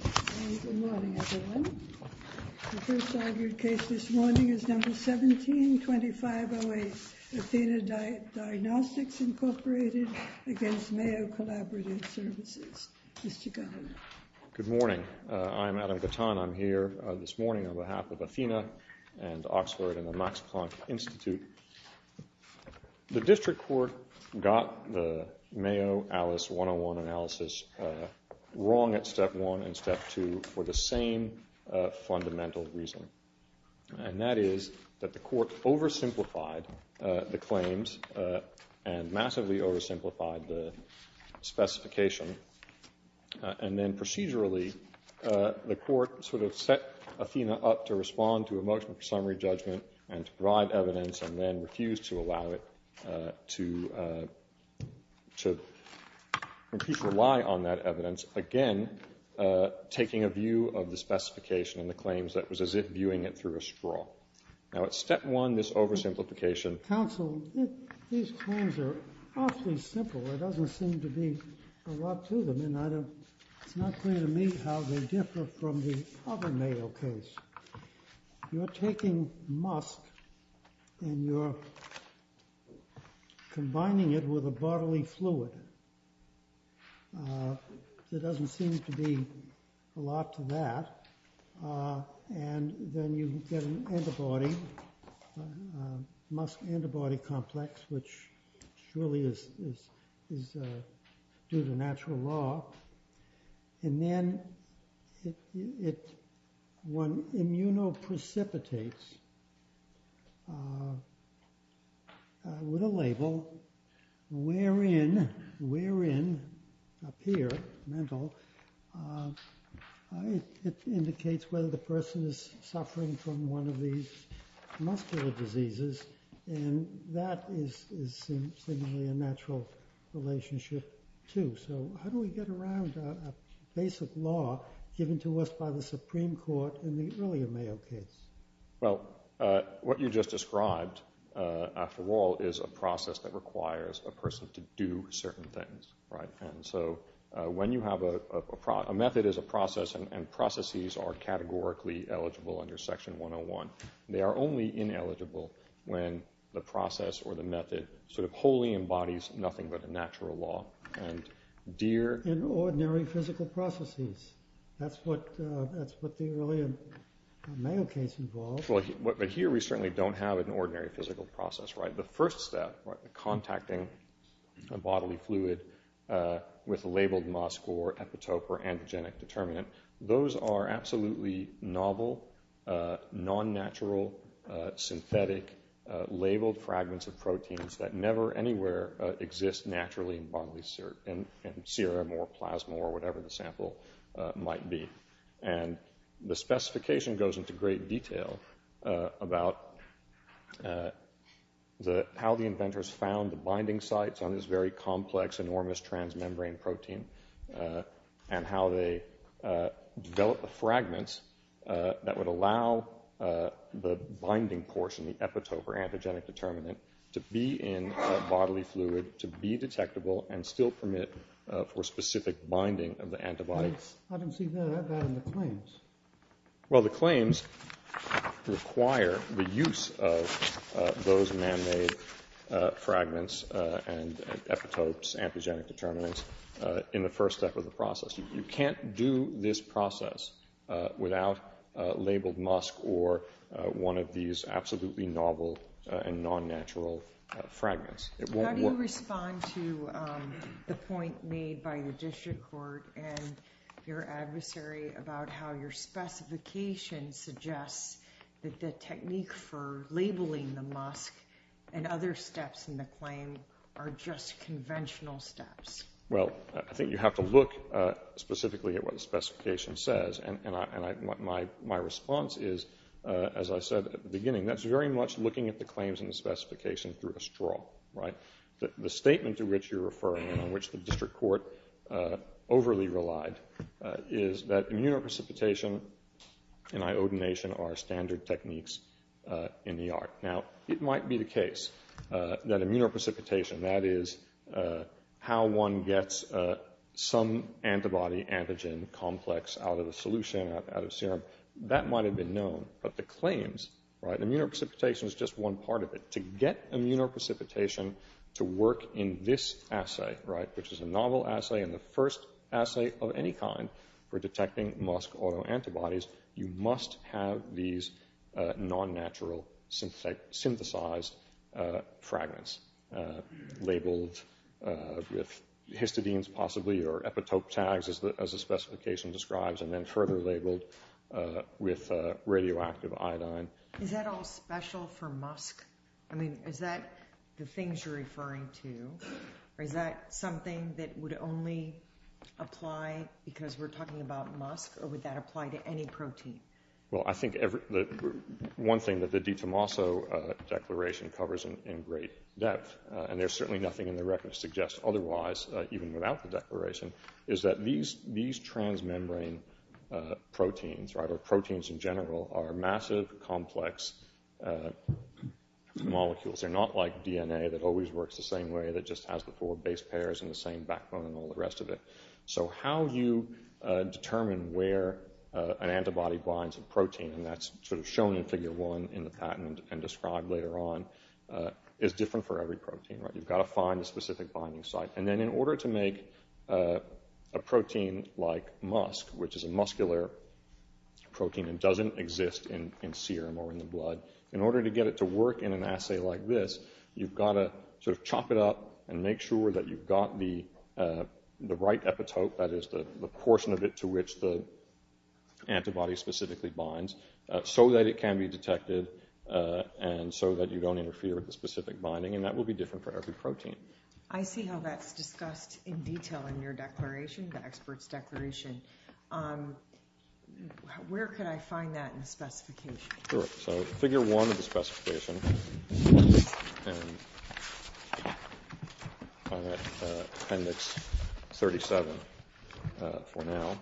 Good morning, everyone. The first argued case this morning is No. 17-2508, Athena Diagnostics, Inc. v. Mayo Collaborative Services. Mr. Governor. Good morning. I'm Adam Gatton. I'm here this morning on behalf of Athena and Oxford and the Max Planck Institute. The district court got the Mayo Alice 101 analysis wrong at Step 1 and Step 2 for the same fundamental reason, and that is that the court oversimplified the claims and massively oversimplified the specification. And then procedurally, the court sort of set Athena up to respond to a motion for summary judgment and to provide evidence and then refused to allow it to rely on that evidence, again taking a view of the specification and the claims that was as if viewing it through a straw. Now at Step 1, this oversimplification… Counsel, these claims are awfully simple. There doesn't seem to be a lot to them, and it's not clear to me how they differ from the other Mayo case. You're taking musk and you're combining it with a bodily fluid. There doesn't seem to be a lot to that. And then you get an antibody, musk antibody complex, which surely is due to natural law. And then one immunoprecipitates with a label wherein, up here, mental, it indicates whether the person is suffering from one of these muscular diseases, and that is seemingly a natural relationship too. So how do we get around a basic law given to us by the Supreme Court in the earlier Mayo case? Well, what you just described, after all, is a process that requires a person to do certain things, right? And so when you have a… a method is a process, and processes are categorically eligible under Section 101. They are only ineligible when the process or the method sort of wholly embodies nothing but a natural law. In ordinary physical processes. That's what the earlier Mayo case involved. But here we certainly don't have an ordinary physical process, right? The first step, contacting a bodily fluid with a labeled musk or epitope or antigenic determinant, those are absolutely novel, non-natural, synthetic, labeled fragments of proteins that never anywhere exist naturally in bodily serum or plasma or whatever the sample might be. And the specification goes into great detail about how the inventors found the binding sites on this very complex, enormous transmembrane protein, and how they developed the fragments that would allow the binding portion, the epitope or antigenic determinant, to be in bodily fluid, to be detectable, and still permit for specific binding of the antibodies. I don't see that in the claims. Well, the claims require the use of those man-made fragments and epitopes, antigenic determinants, in the first step of the process. You can't do this process without labeled musk or one of these absolutely novel and non-natural fragments. How do you respond to the point made by the district court and your adversary about how your specification suggests that the technique for labeling the musk and other steps in the claim are just conventional steps? Well, I think you have to look specifically at what the specification says. And my response is, as I said at the beginning, that's very much looking at the claims in the specification through a straw. The statement to which you're referring and on which the district court overly relied is that immunoprecipitation and iodination are standard techniques in the art. Now, it might be the case that immunoprecipitation, that is how one gets some antibody antigen complex out of the solution, out of serum, that might have been known. But the claims, immunoprecipitation is just one part of it. To get immunoprecipitation to work in this assay, which is a novel assay and the first assay of any kind for detecting musk autoantibodies, you must have these non-natural synthesized fragments labeled with histidines possibly or epitope tags, as the specification describes, and then further labeled with radioactive iodine. Is that all special for musk? I mean, is that the things you're referring to? Or is that something that would only apply because we're talking about musk? Or would that apply to any protein? Well, I think one thing that the DiTomaso Declaration covers in great depth, and there's certainly nothing in the record that suggests otherwise, even without the declaration, is that these transmembrane proteins, or proteins in general, are massive, complex molecules. They're not like DNA that always works the same way, that just has the four base pairs and the same backbone and all the rest of it. So how you determine where an antibody binds a protein, and that's sort of shown in Figure 1 in the patent and described later on, is different for every protein. You've got to find a specific binding site. And then in order to make a protein like musk, which is a muscular protein and doesn't exist in serum or in the blood, in order to get it to work in an assay like this, you've got to sort of chop it up and make sure that you've got the right epitope, that is the portion of it to which the antibody specifically binds, so that it can be detected and so that you don't interfere with the specific binding. And that will be different for every protein. I see how that's discussed in detail in your declaration, the expert's declaration. Where could I find that in the specification? Figure 1 of the specification, Appendix 37 for now,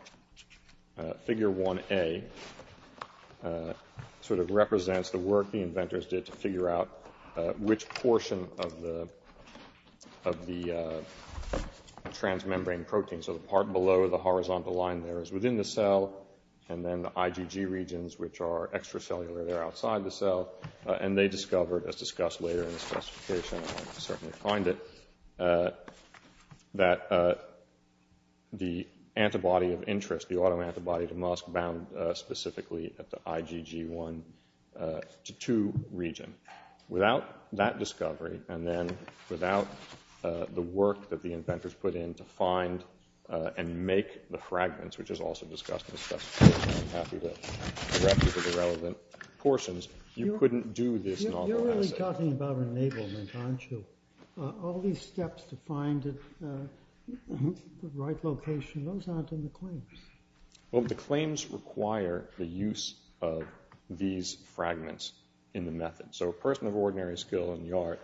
Figure 1A sort of represents the work the inventors did to figure out which portion of the transmembrane protein, so the part below the horizontal line there is within the cell, and then the IgG regions, which are extracellular, they're outside the cell. And they discovered, as discussed later in the specification, and I'll certainly find it, that the antibody of interest, the autoantibody to musk bound specifically at the IgG1 to 2 region. Without that discovery, and then without the work that the inventors put in to find and make the fragments, which is also discussed in the specification, I'm happy to direct you to the relevant portions, you couldn't do this novel assay. You're really talking about enablement, aren't you? All these steps to find the right location, those aren't in the claims. Well, the claims require the use of these fragments in the method. So a person of ordinary skill in the art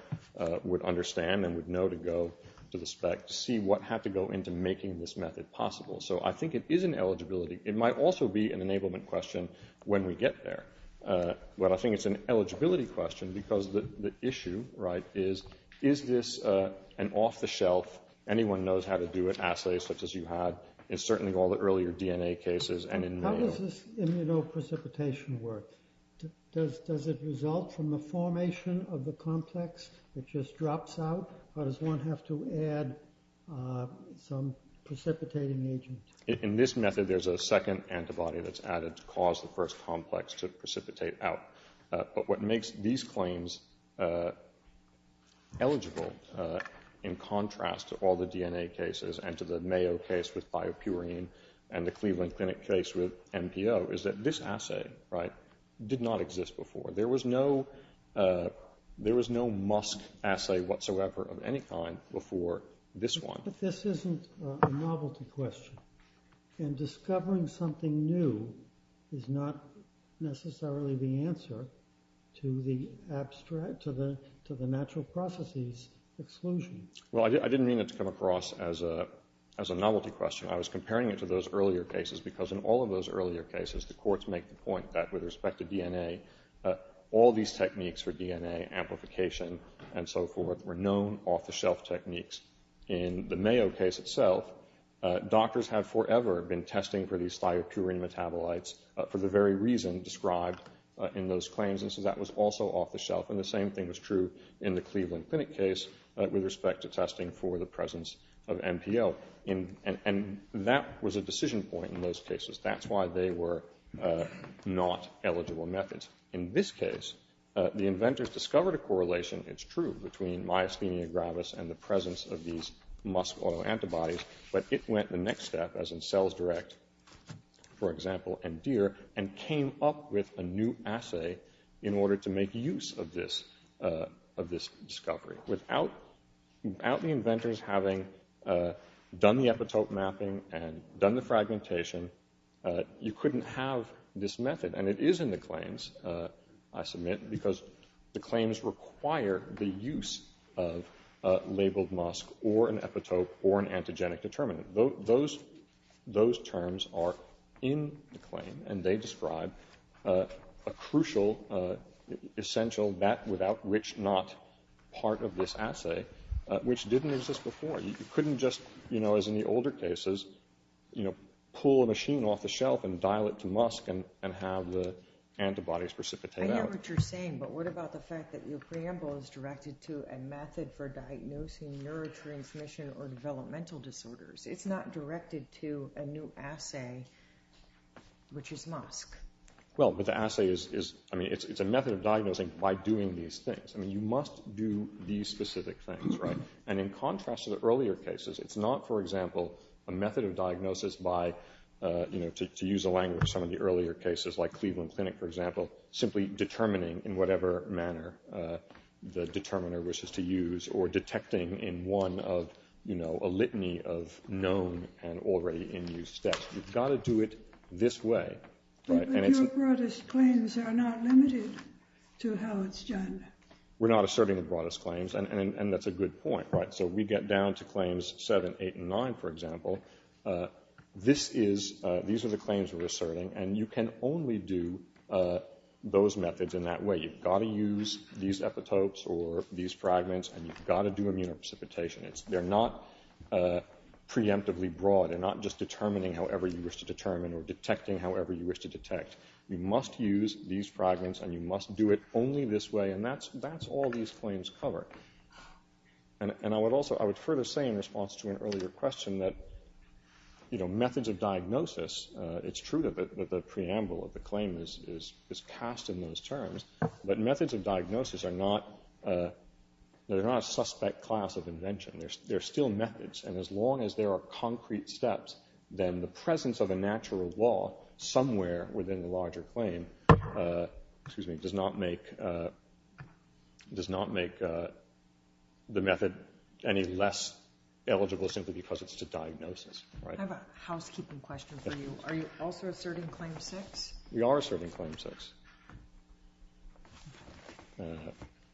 would understand and would know to go to the spec to see what had to go into making this method possible. So I think it is an eligibility. It might also be an enablement question when we get there. But I think it's an eligibility question because the issue is, is this an off-the-shelf, anyone knows how to do it, assay such as you had, in certainly all the earlier DNA cases and in many others. How does this immunoprecipitation work? Does it result from the formation of the complex? It just drops out? Or does one have to add some precipitating agent? In this method, there's a second antibody that's added to cause the first complex to precipitate out. But what makes these claims eligible in contrast to all the DNA cases and to the Mayo case with biopurine and the Cleveland Clinic case with MPO is that this assay did not exist before. There was no musk assay whatsoever of any kind before this one. But this isn't a novelty question. And discovering something new is not necessarily the answer to the natural processes exclusion. Well, I didn't mean it to come across as a novelty question. I was comparing it to those earlier cases because in all of those earlier cases, the courts make the point that with respect to DNA, all these techniques for DNA amplification and so forth were known off-the-shelf techniques. In the Mayo case itself, doctors had forever been testing for these biopurine metabolites for the very reason described in those claims. And so that was also off-the-shelf. And the same thing was true in the Cleveland Clinic case with respect to testing for the presence of MPO. And that was a decision point in those cases. That's why they were not eligible methods. In this case, the inventors discovered a correlation. It's true between myasthenia gravis and the presence of these musk autoantibodies. But it went the next step, as in cells direct, for example, and deer, and came up with a new assay in order to make use of this discovery. Without the inventors having done the epitope mapping and done the fragmentation, you couldn't have this method. And it is in the claims, I submit, because the claims require the use of labeled musk or an epitope or an antigenic determinant. Those terms are in the claim, and they describe a crucial, essential, that-without-which-not part of this assay, which didn't exist before. You couldn't just, as in the older cases, pull a machine off the shelf and dial it to musk and have the antibodies precipitate out. I hear what you're saying, but what about the fact that your preamble is directed to a method for diagnosing neurotransmission or developmental disorders? It's not directed to a new assay, which is musk. Well, but the assay is, I mean, it's a method of diagnosing by doing these things. I mean, you must do these specific things, right? And in contrast to the earlier cases, it's not, for example, a method of diagnosis by, to use the language of some of the earlier cases, like Cleveland Clinic, for example, simply determining in whatever manner the determiner wishes to use or detecting in one of a litany of known and already in use steps. You've got to do it this way. But your broadest claims are not limited to how it's done. We're not asserting the broadest claims, and that's a good point, right? So we get down to claims 7, 8, and 9, for example. These are the claims we're asserting, and you can only do those methods in that way. You've got to use these epitopes or these fragments, and you've got to do immunoprecipitation. They're not preemptively broad. They're not just determining however you wish to determine or detecting however you wish to detect. You must use these fragments, and you must do it only this way, and that's all these claims cover. And I would also, I would further say in response to an earlier question that, you know, methods of diagnosis, it's true that the preamble of the claim is cast in those terms, but methods of diagnosis are not a suspect class of invention. They're still methods, and as long as there are concrete steps, then the presence of a natural law somewhere within the larger claim, excuse me, does not make the method any less eligible simply because it's a diagnosis. I have a housekeeping question for you. Are you also asserting Claim 6? We are asserting Claim 6.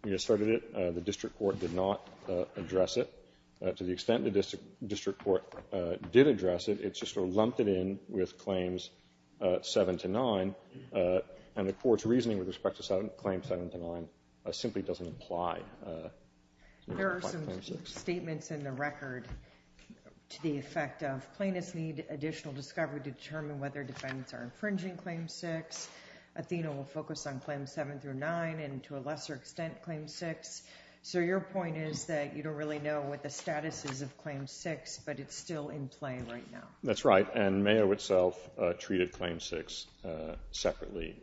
We asserted it. The district court did not address it. To the extent the district court did address it, it's just sort of lumped it in with Claims 7 to 9, and the court's reasoning with respect to Claim 7 to 9 simply doesn't apply. There are some statements in the record to the effect of plaintiffs need additional discovery to determine whether defendants are infringing Claim 6. Athena will focus on Claims 7 through 9 and, to a lesser extent, Claim 6. So your point is that you don't really know what the status is of Claim 6, but it's still in play right now. That's right, and Mayo itself treated Claim 6 separately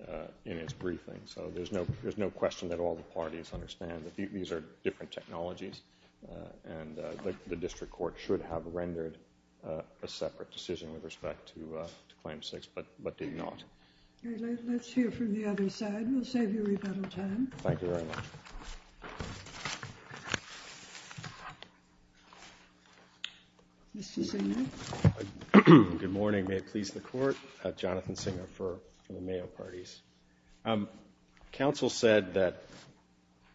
in its briefing, so there's no question that all the parties understand that these are different technologies, and the district court should have rendered a separate decision with respect to Claim 6 but did not. Let's hear from the other side. We'll save you rebuttal time. Thank you very much. Mr. Singer. Good morning. May it please the court. Jonathan Singer for the Mayo parties. Counsel said that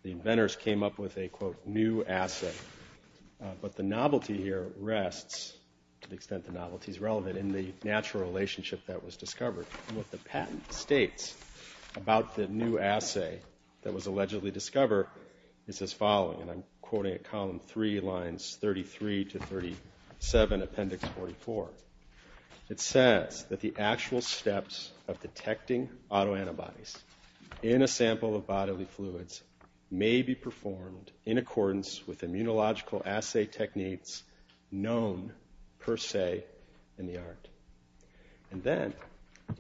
the inventors came up with a, quote, new assay, but the novelty here rests, to the extent the novelty is relevant, in the natural relationship that was discovered. What the patent states about the new assay that was allegedly discovered is as following, and I'm quoting at Column 3, Lines 33 to 37, Appendix 44. It says that the actual steps of detecting autoantibodies in a sample of bodily fluids may be performed in accordance with immunological assay techniques known per se in the art. And then,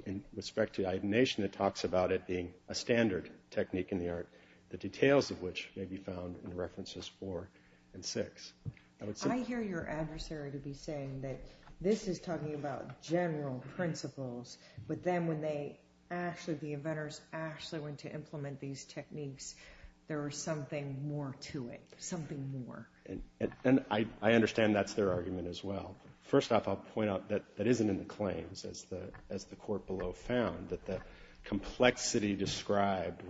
in respect to iodination, it talks about it being a standard technique in the art, the details of which may be found in References 4 and 6. I hear your adversary to be saying that this is talking about general principles, but then when they actually, the inventors actually went to implement these techniques, there was something more to it, something more. And I understand that's their argument as well. First off, I'll point out that that isn't in the claims, as the court below found, that the complexity described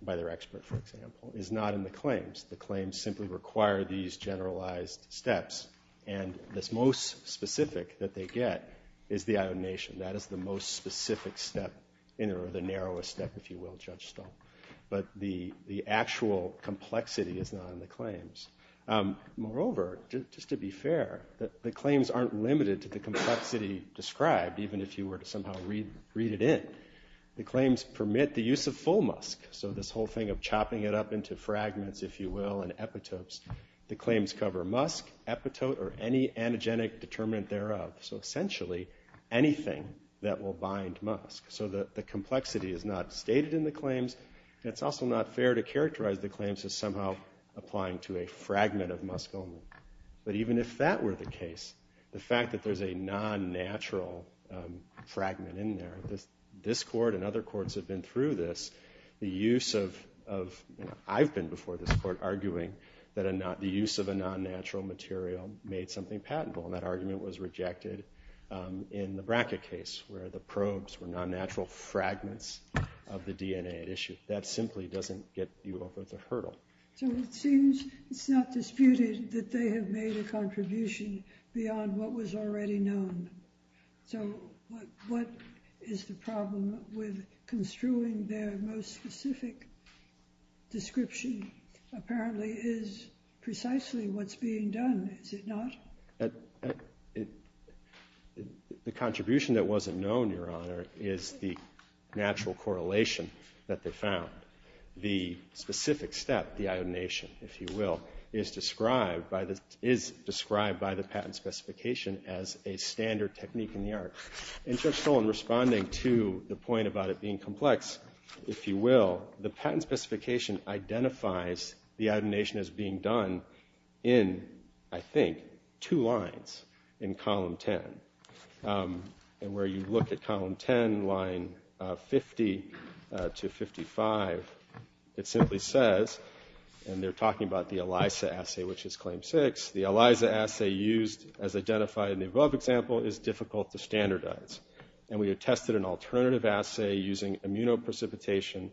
by their expert, for example, is not in the claims. The claims simply require these generalized steps. And the most specific that they get is the iodination. That is the most specific step, or the narrowest step, if you will, Judge Stahl. But the actual complexity is not in the claims. Moreover, just to be fair, the claims aren't limited to the complexity described, even if you were to somehow read it in. The claims permit the use of full musk. So this whole thing of chopping it up into fragments, if you will, and epitopes. The claims cover musk, epitope, or any antigenic determinant thereof. So essentially, anything that will bind musk. So the complexity is not stated in the claims, and it's also not fair to characterize the claims as somehow applying to a fragment of musk only. But even if that were the case, the fact that there's a non-natural fragment in there, this court and other courts have been through this, the use of, I've been before this court, arguing that the use of a non-natural material made something patentable. And that argument was rejected in the Brackett case, where the probes were non-natural fragments of the DNA at issue. That simply doesn't get you over the hurdle. So it seems it's not disputed that they have made a contribution beyond what was already known. So what is the problem with construing their most specific description? Apparently, it is precisely what's being done, is it not? The contribution that wasn't known, Your Honor, is the natural correlation that they found. The specific step, the iodination, if you will, is described by the patent specification as a standard technique in the art. And so in responding to the point about it being complex, if you will, the patent specification identifies the iodination as being done in, I think, two lines in Column 10. And where you look at Column 10, line 50 to 55, it simply says, and they're talking about the ELISA assay, which is Claim 6, the ELISA assay used as identified in the above example is difficult to standardize. And we have tested an alternative assay using immunoprecipitation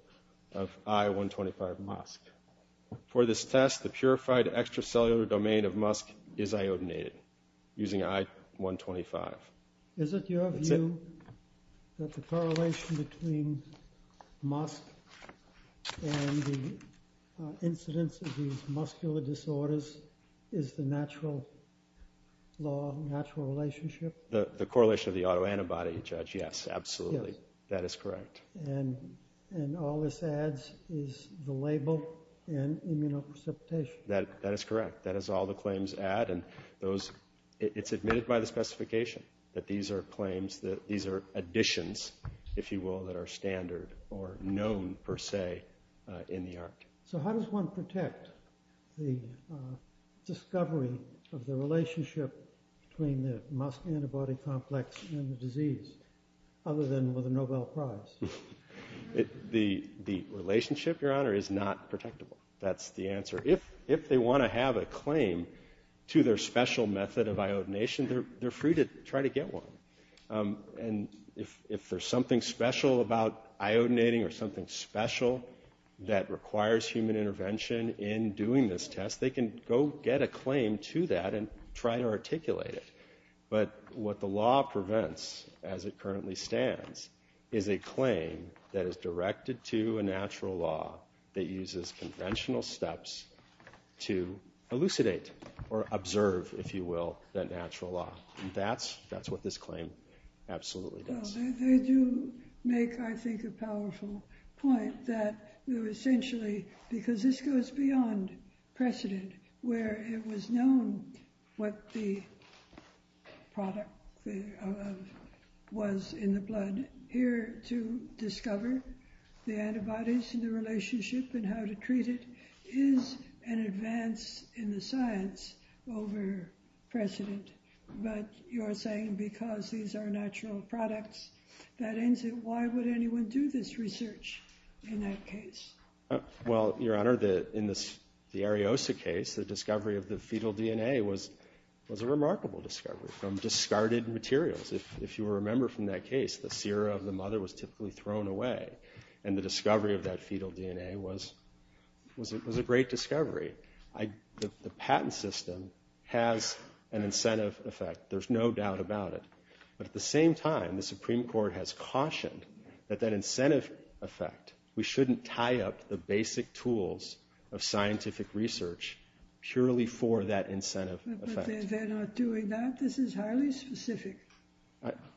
of I-125 musk. For this test, the purified extracellular domain of musk is iodinated using I-125. Is it your view that the correlation between musk and the incidence of these muscular disorders is the natural law, natural relationship? The correlation of the autoantibody, Judge, yes, absolutely. That is correct. And all this adds is the label and immunoprecipitation. That is correct. That is all the claims add. And it's admitted by the specification that these are claims, that these are additions, if you will, that are standard or known per se in the art. So how does one protect the discovery of the relationship between the musk antibody complex and the disease other than with a Nobel Prize? The relationship, Your Honor, is not protectable. That's the answer. If they want to have a claim to their special method of iodination, they're free to try to get one. And if there's something special about iodinating or something special that requires human intervention in doing this test, they can go get a claim to that and try to articulate it. But what the law prevents, as it currently stands, is a claim that is directed to a natural law that uses conventional steps to elucidate or observe, if you will, that natural law. And that's what this claim absolutely does. They do make, I think, a powerful point that they're essentially, because this goes beyond precedent, where it was known what the product was in the blood. Here to discover the antibodies and the relationship and how to treat it is an advance in the science over precedent. But you're saying because these are natural products, that ends it. Why would anyone do this research in that case? Well, Your Honor, in the Ariosa case, the discovery of the fetal DNA was a remarkable discovery from discarded materials. If you remember from that case, the sera of the mother was typically thrown away. And the discovery of that fetal DNA was a great discovery. The patent system has an incentive effect. There's no doubt about it. But at the same time, the Supreme Court has cautioned that that incentive effect, we shouldn't tie up the basic tools of scientific research purely for that incentive effect. But they're not doing that. This is highly specific.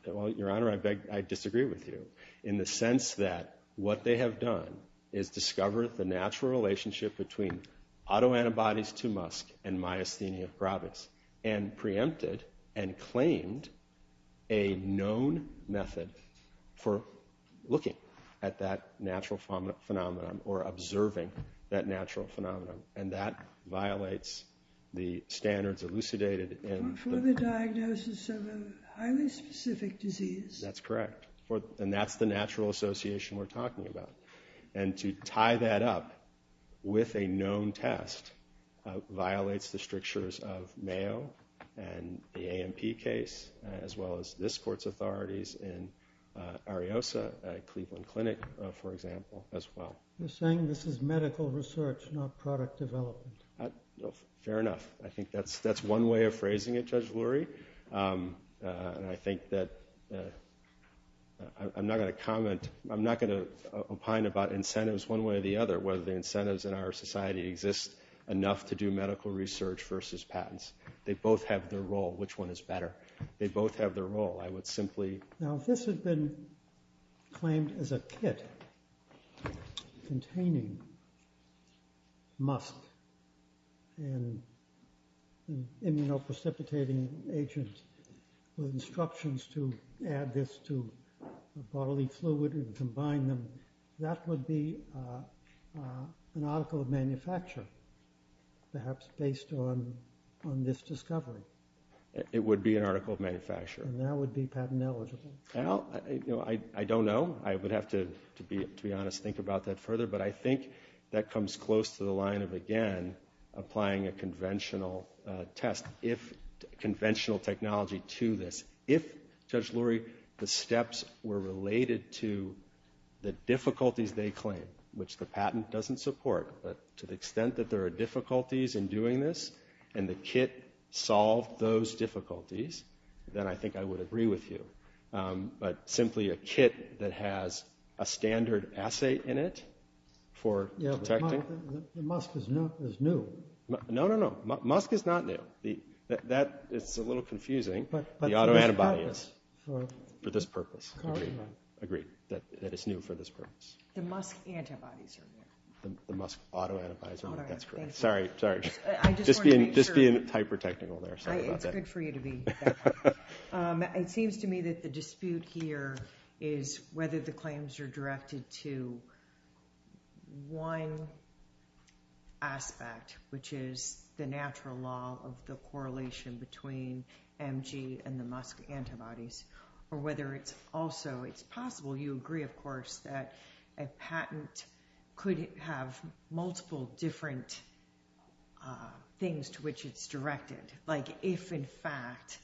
Well, Your Honor, I disagree with you in the sense that what they have done is discover the natural relationship between autoantibodies to musk and myasthenia probis and preempted and claimed a known method for looking at that natural phenomenon or observing that natural phenomenon. And that violates the standards elucidated in the... For the diagnosis of a highly specific disease. That's correct. And that's the natural association we're talking about. And to tie that up with a known test violates the strictures of Mayo and the AMP case as well as this Court's authorities in Ariosa, Cleveland Clinic, for example, as well. You're saying this is medical research, not product development. Fair enough. I think that's one way of phrasing it, Judge Lurie. And I think that I'm not going to comment... I'm not going to opine about incentives one way or the other, whether the incentives in our society exist enough to do medical research versus patents. They both have their role. Which one is better? They both have their role. I would simply... Now, if this had been claimed as a kit containing musk and an immunoprecipitating agent with instructions to add this to bodily fluid and combine them, that would be an article of manufacture, perhaps based on this discovery. And that would be patent eligible? I don't know. I would have to, to be honest, think about that further. But I think that comes close to the line of, again, applying a conventional test, conventional technology to this. If, Judge Lurie, the steps were related to the difficulties they claim, which the patent doesn't support, but to the extent that there are difficulties in doing this and the kit solved those difficulties, then I think I would agree with you. But simply a kit that has a standard assay in it for detecting... Yeah, but musk is new. No, no, no. Musk is not new. That is a little confusing. But the autoantibody is. But for this purpose. For this purpose. Agreed. That it's new for this purpose. The musk antibodies are new. The musk autoantibodies are new. That's correct. All right. Thank you. Sorry. Sorry. I just wanted to make sure. Just being hyper-technical there. Sorry about that. It's good for you to be that way. It seems to me that the dispute here is whether the claims are directed to one aspect, which is the natural law of the correlation between MG and the musk antibodies, or whether it's also, it's possible, you agree, of course, that a patent could have multiple different things to which it's directed. Like if, in fact,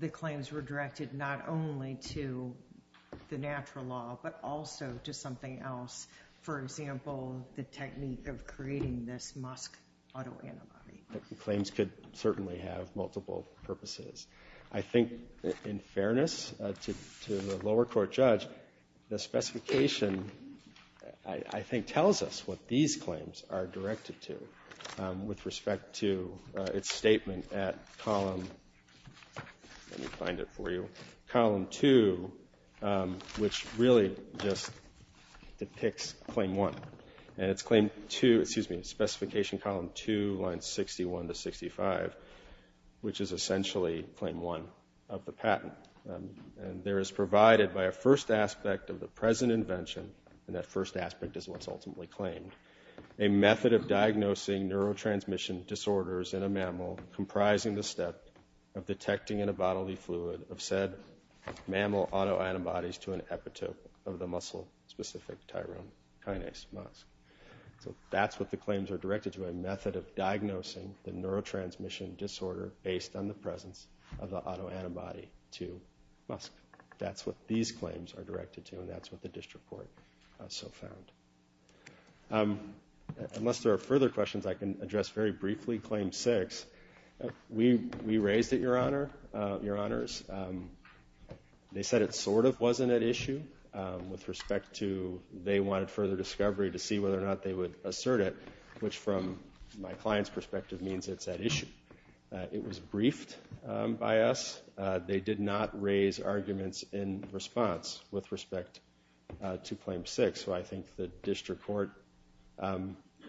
the claims were directed not only to the natural law, but also to something else. For example, the technique of creating this musk autoantibody. Claims could certainly have multiple purposes. I think, in fairness to the lower court judge, the specification, I think, tells us what these claims are directed to with respect to its statement at column, let me find it for you, column 2, which really just depicts claim 1. And it's claim 2, excuse me, specification column 2, lines 61 to 65, which is essentially claim 1 of the patent. And there is provided by a first aspect of the present invention, and that first aspect is what's ultimately claimed, a method of diagnosing neurotransmission disorders in a mammal comprising the step of detecting in a bodily fluid of said mammal autoantibodies to an epitope of the muscle-specific tyrone kinase, musk. So that's what the claims are directed to, a method of diagnosing the neurotransmission disorder based on the presence of the autoantibody to musk. That's what these claims are directed to, and that's what the district court so found. Unless there are further questions, I can address very briefly claim 6. We raised it, Your Honors. They said it sort of wasn't at issue with respect to they wanted further discovery to see whether or not they would assert it, which from my client's perspective means it's at issue. It was briefed by us. They did not raise arguments in response with respect to claim 6, so I think the district court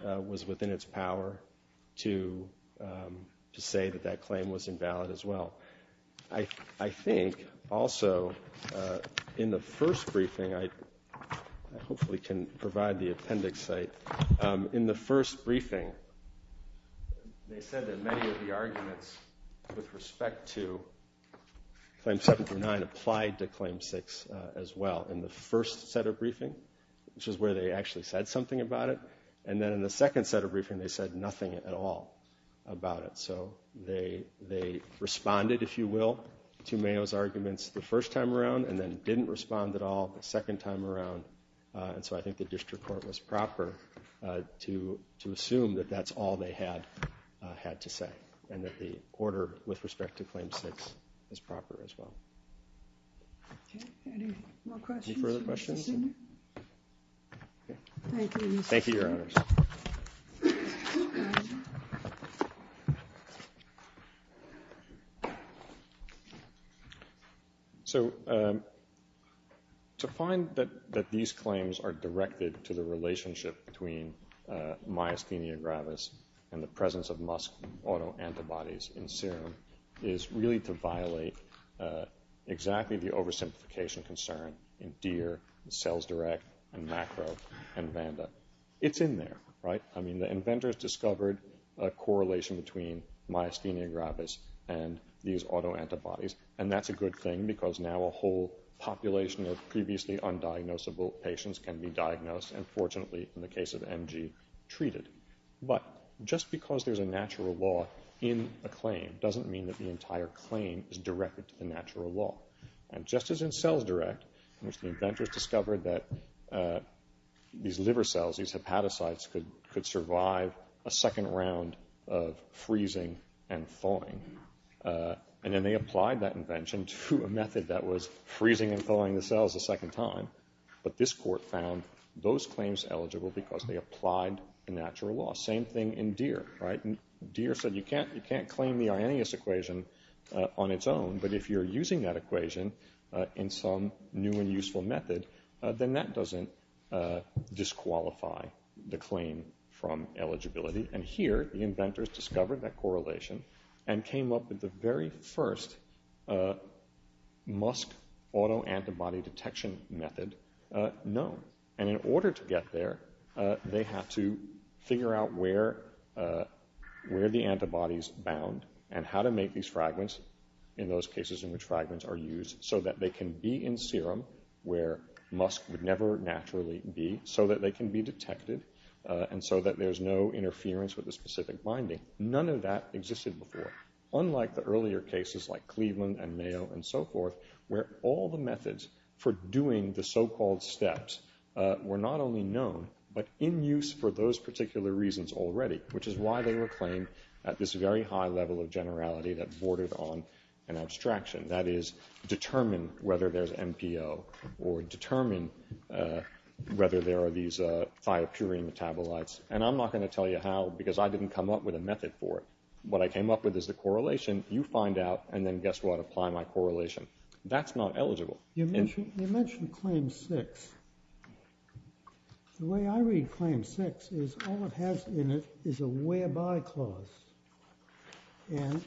was within its power to say that that claim was invalid as well. I think also in the first briefing I hopefully can provide the appendix site. In the first briefing they said that many of the arguments with respect to claim 7 through 9 applied to claim 6 as well in the first set of briefing, which is where they actually said something about it, and then in the second set of briefing they said nothing at all about it. So they responded, if you will, to Mayo's arguments the first time around and then didn't respond at all the second time around, and so I think the district court was proper to assume that that's all they had to say and that the order with respect to claim 6 is proper as well. Any further questions? Thank you, Your Honors. Thank you. So to find that these claims are directed to the relationship between myasthenia gravis and the presence of musk autoantibodies in serum is really to violate exactly the oversimplification concern in DEER, in CellsDirect, in MACRO, and Vanda. It's in there, right? I mean, the inventors discovered a correlation between myasthenia gravis and these autoantibodies, and that's a good thing because now a whole population of previously undiagnosable patients can be diagnosed and fortunately, in the case of MG, treated. But just because there's a natural law in a claim doesn't mean that the entire claim is directed to the natural law. And just as in CellsDirect, in which the inventors discovered that these liver cells, these hepatocytes, could survive a second round of freezing and thawing, and then they applied that invention to a method that was freezing and thawing the cells a second time, but this court found those claims eligible because they applied the natural law. Same thing in DEER, right? DEER said you can't claim the Arrhenius equation on its own, but if you're using that equation in some new and useful method, then that doesn't disqualify the claim from eligibility. And here, the inventors discovered that correlation and came up with the very first musk autoantibody detection method known. And in order to get there, they had to figure out where the antibodies bound and how to make these fragments in those cases in which fragments are used so that they can be in serum where musk would never naturally be, so that they can be detected, and so that there's no interference with the specific binding. None of that existed before. Unlike the earlier cases like Cleveland and Mayo and so forth, where all the methods for doing the so-called steps were not only known, but in use for those particular reasons already, which is why they were claimed at this very high level of generality that bordered on an abstraction. That is, determine whether there's MPO or determine whether there are these thiopurine metabolites. And I'm not going to tell you how because I didn't come up with a method for it. What I came up with is the correlation. You find out, and then guess what? Apply my correlation. That's not eligible. You mentioned Claim 6. The way I read Claim 6 is all it has in it is a whereby clause, and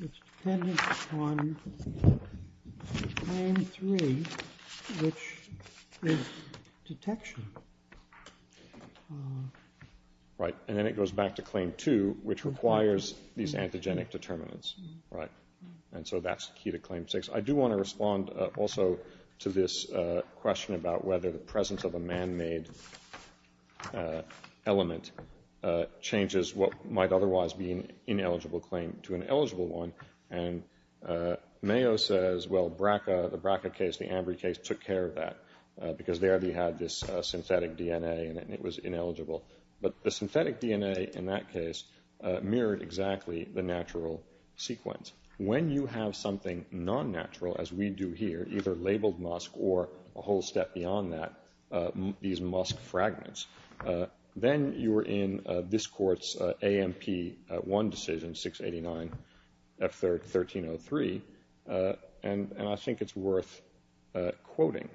it's dependent on Claim 3, which is detection. Right. And then it goes back to Claim 2, which requires these antigenic determinants. Right. And so that's the key to Claim 6. I do want to respond also to this question about whether the presence of a man-made element changes what might otherwise be an ineligible claim to an eligible one. And Mayo says, well, BRCA, the BRCA case, the AMBRI case, took care of that because they already had this synthetic DNA in it, and it was ineligible. But the synthetic DNA in that case mirrored exactly the natural sequence. When you have something non-natural, as we do here, either labeled musk or a whole step beyond that, these musk fragments, then you are in this court's AMP1 decision, 689F1303, and I think it's worth quoting.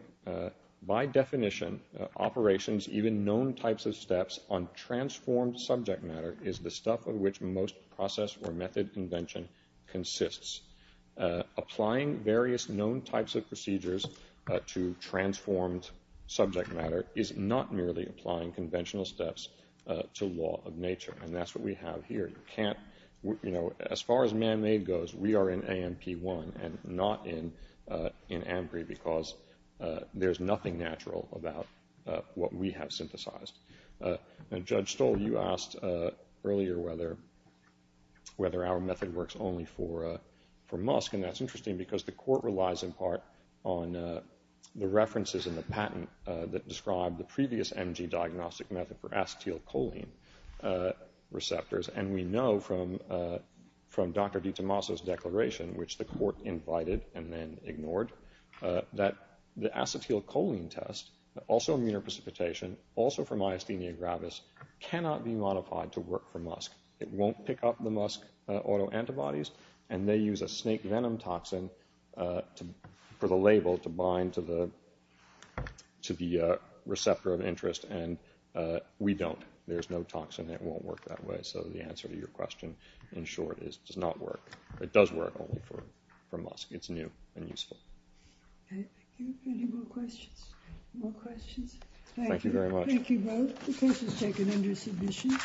By definition, operations, even known types of steps on transformed subject matter, is the stuff of which most process or method convention consists. Applying various known types of procedures to transformed subject matter is not merely applying conventional steps to law of nature, and that's what we have here. As far as man-made goes, we are in AMP1 and not in AMBRI because there's nothing natural about what we have synthesized. Judge Stoll, you asked earlier whether our method works only for musk, and that's interesting because the court relies in part on the references in the patent that describe the previous MG diagnostic method for acetylcholine receptors, and we know from Dr. DiTomaso's declaration, which the court invited and then ignored, that the acetylcholine test, also immunoprecipitation, also from Myasthenia gravis, cannot be modified to work for musk. It won't pick up the musk autoantibodies, and they use a snake venom toxin for the label to bind to the receptor of interest, and we don't. There's no toxin that won't work that way. So the answer to your question, in short, is it does not work. It does work only for musk. It's new and useful. Okay, thank you. Any more questions? More questions? Thank you very much. Thank you both. The case is taken under submission.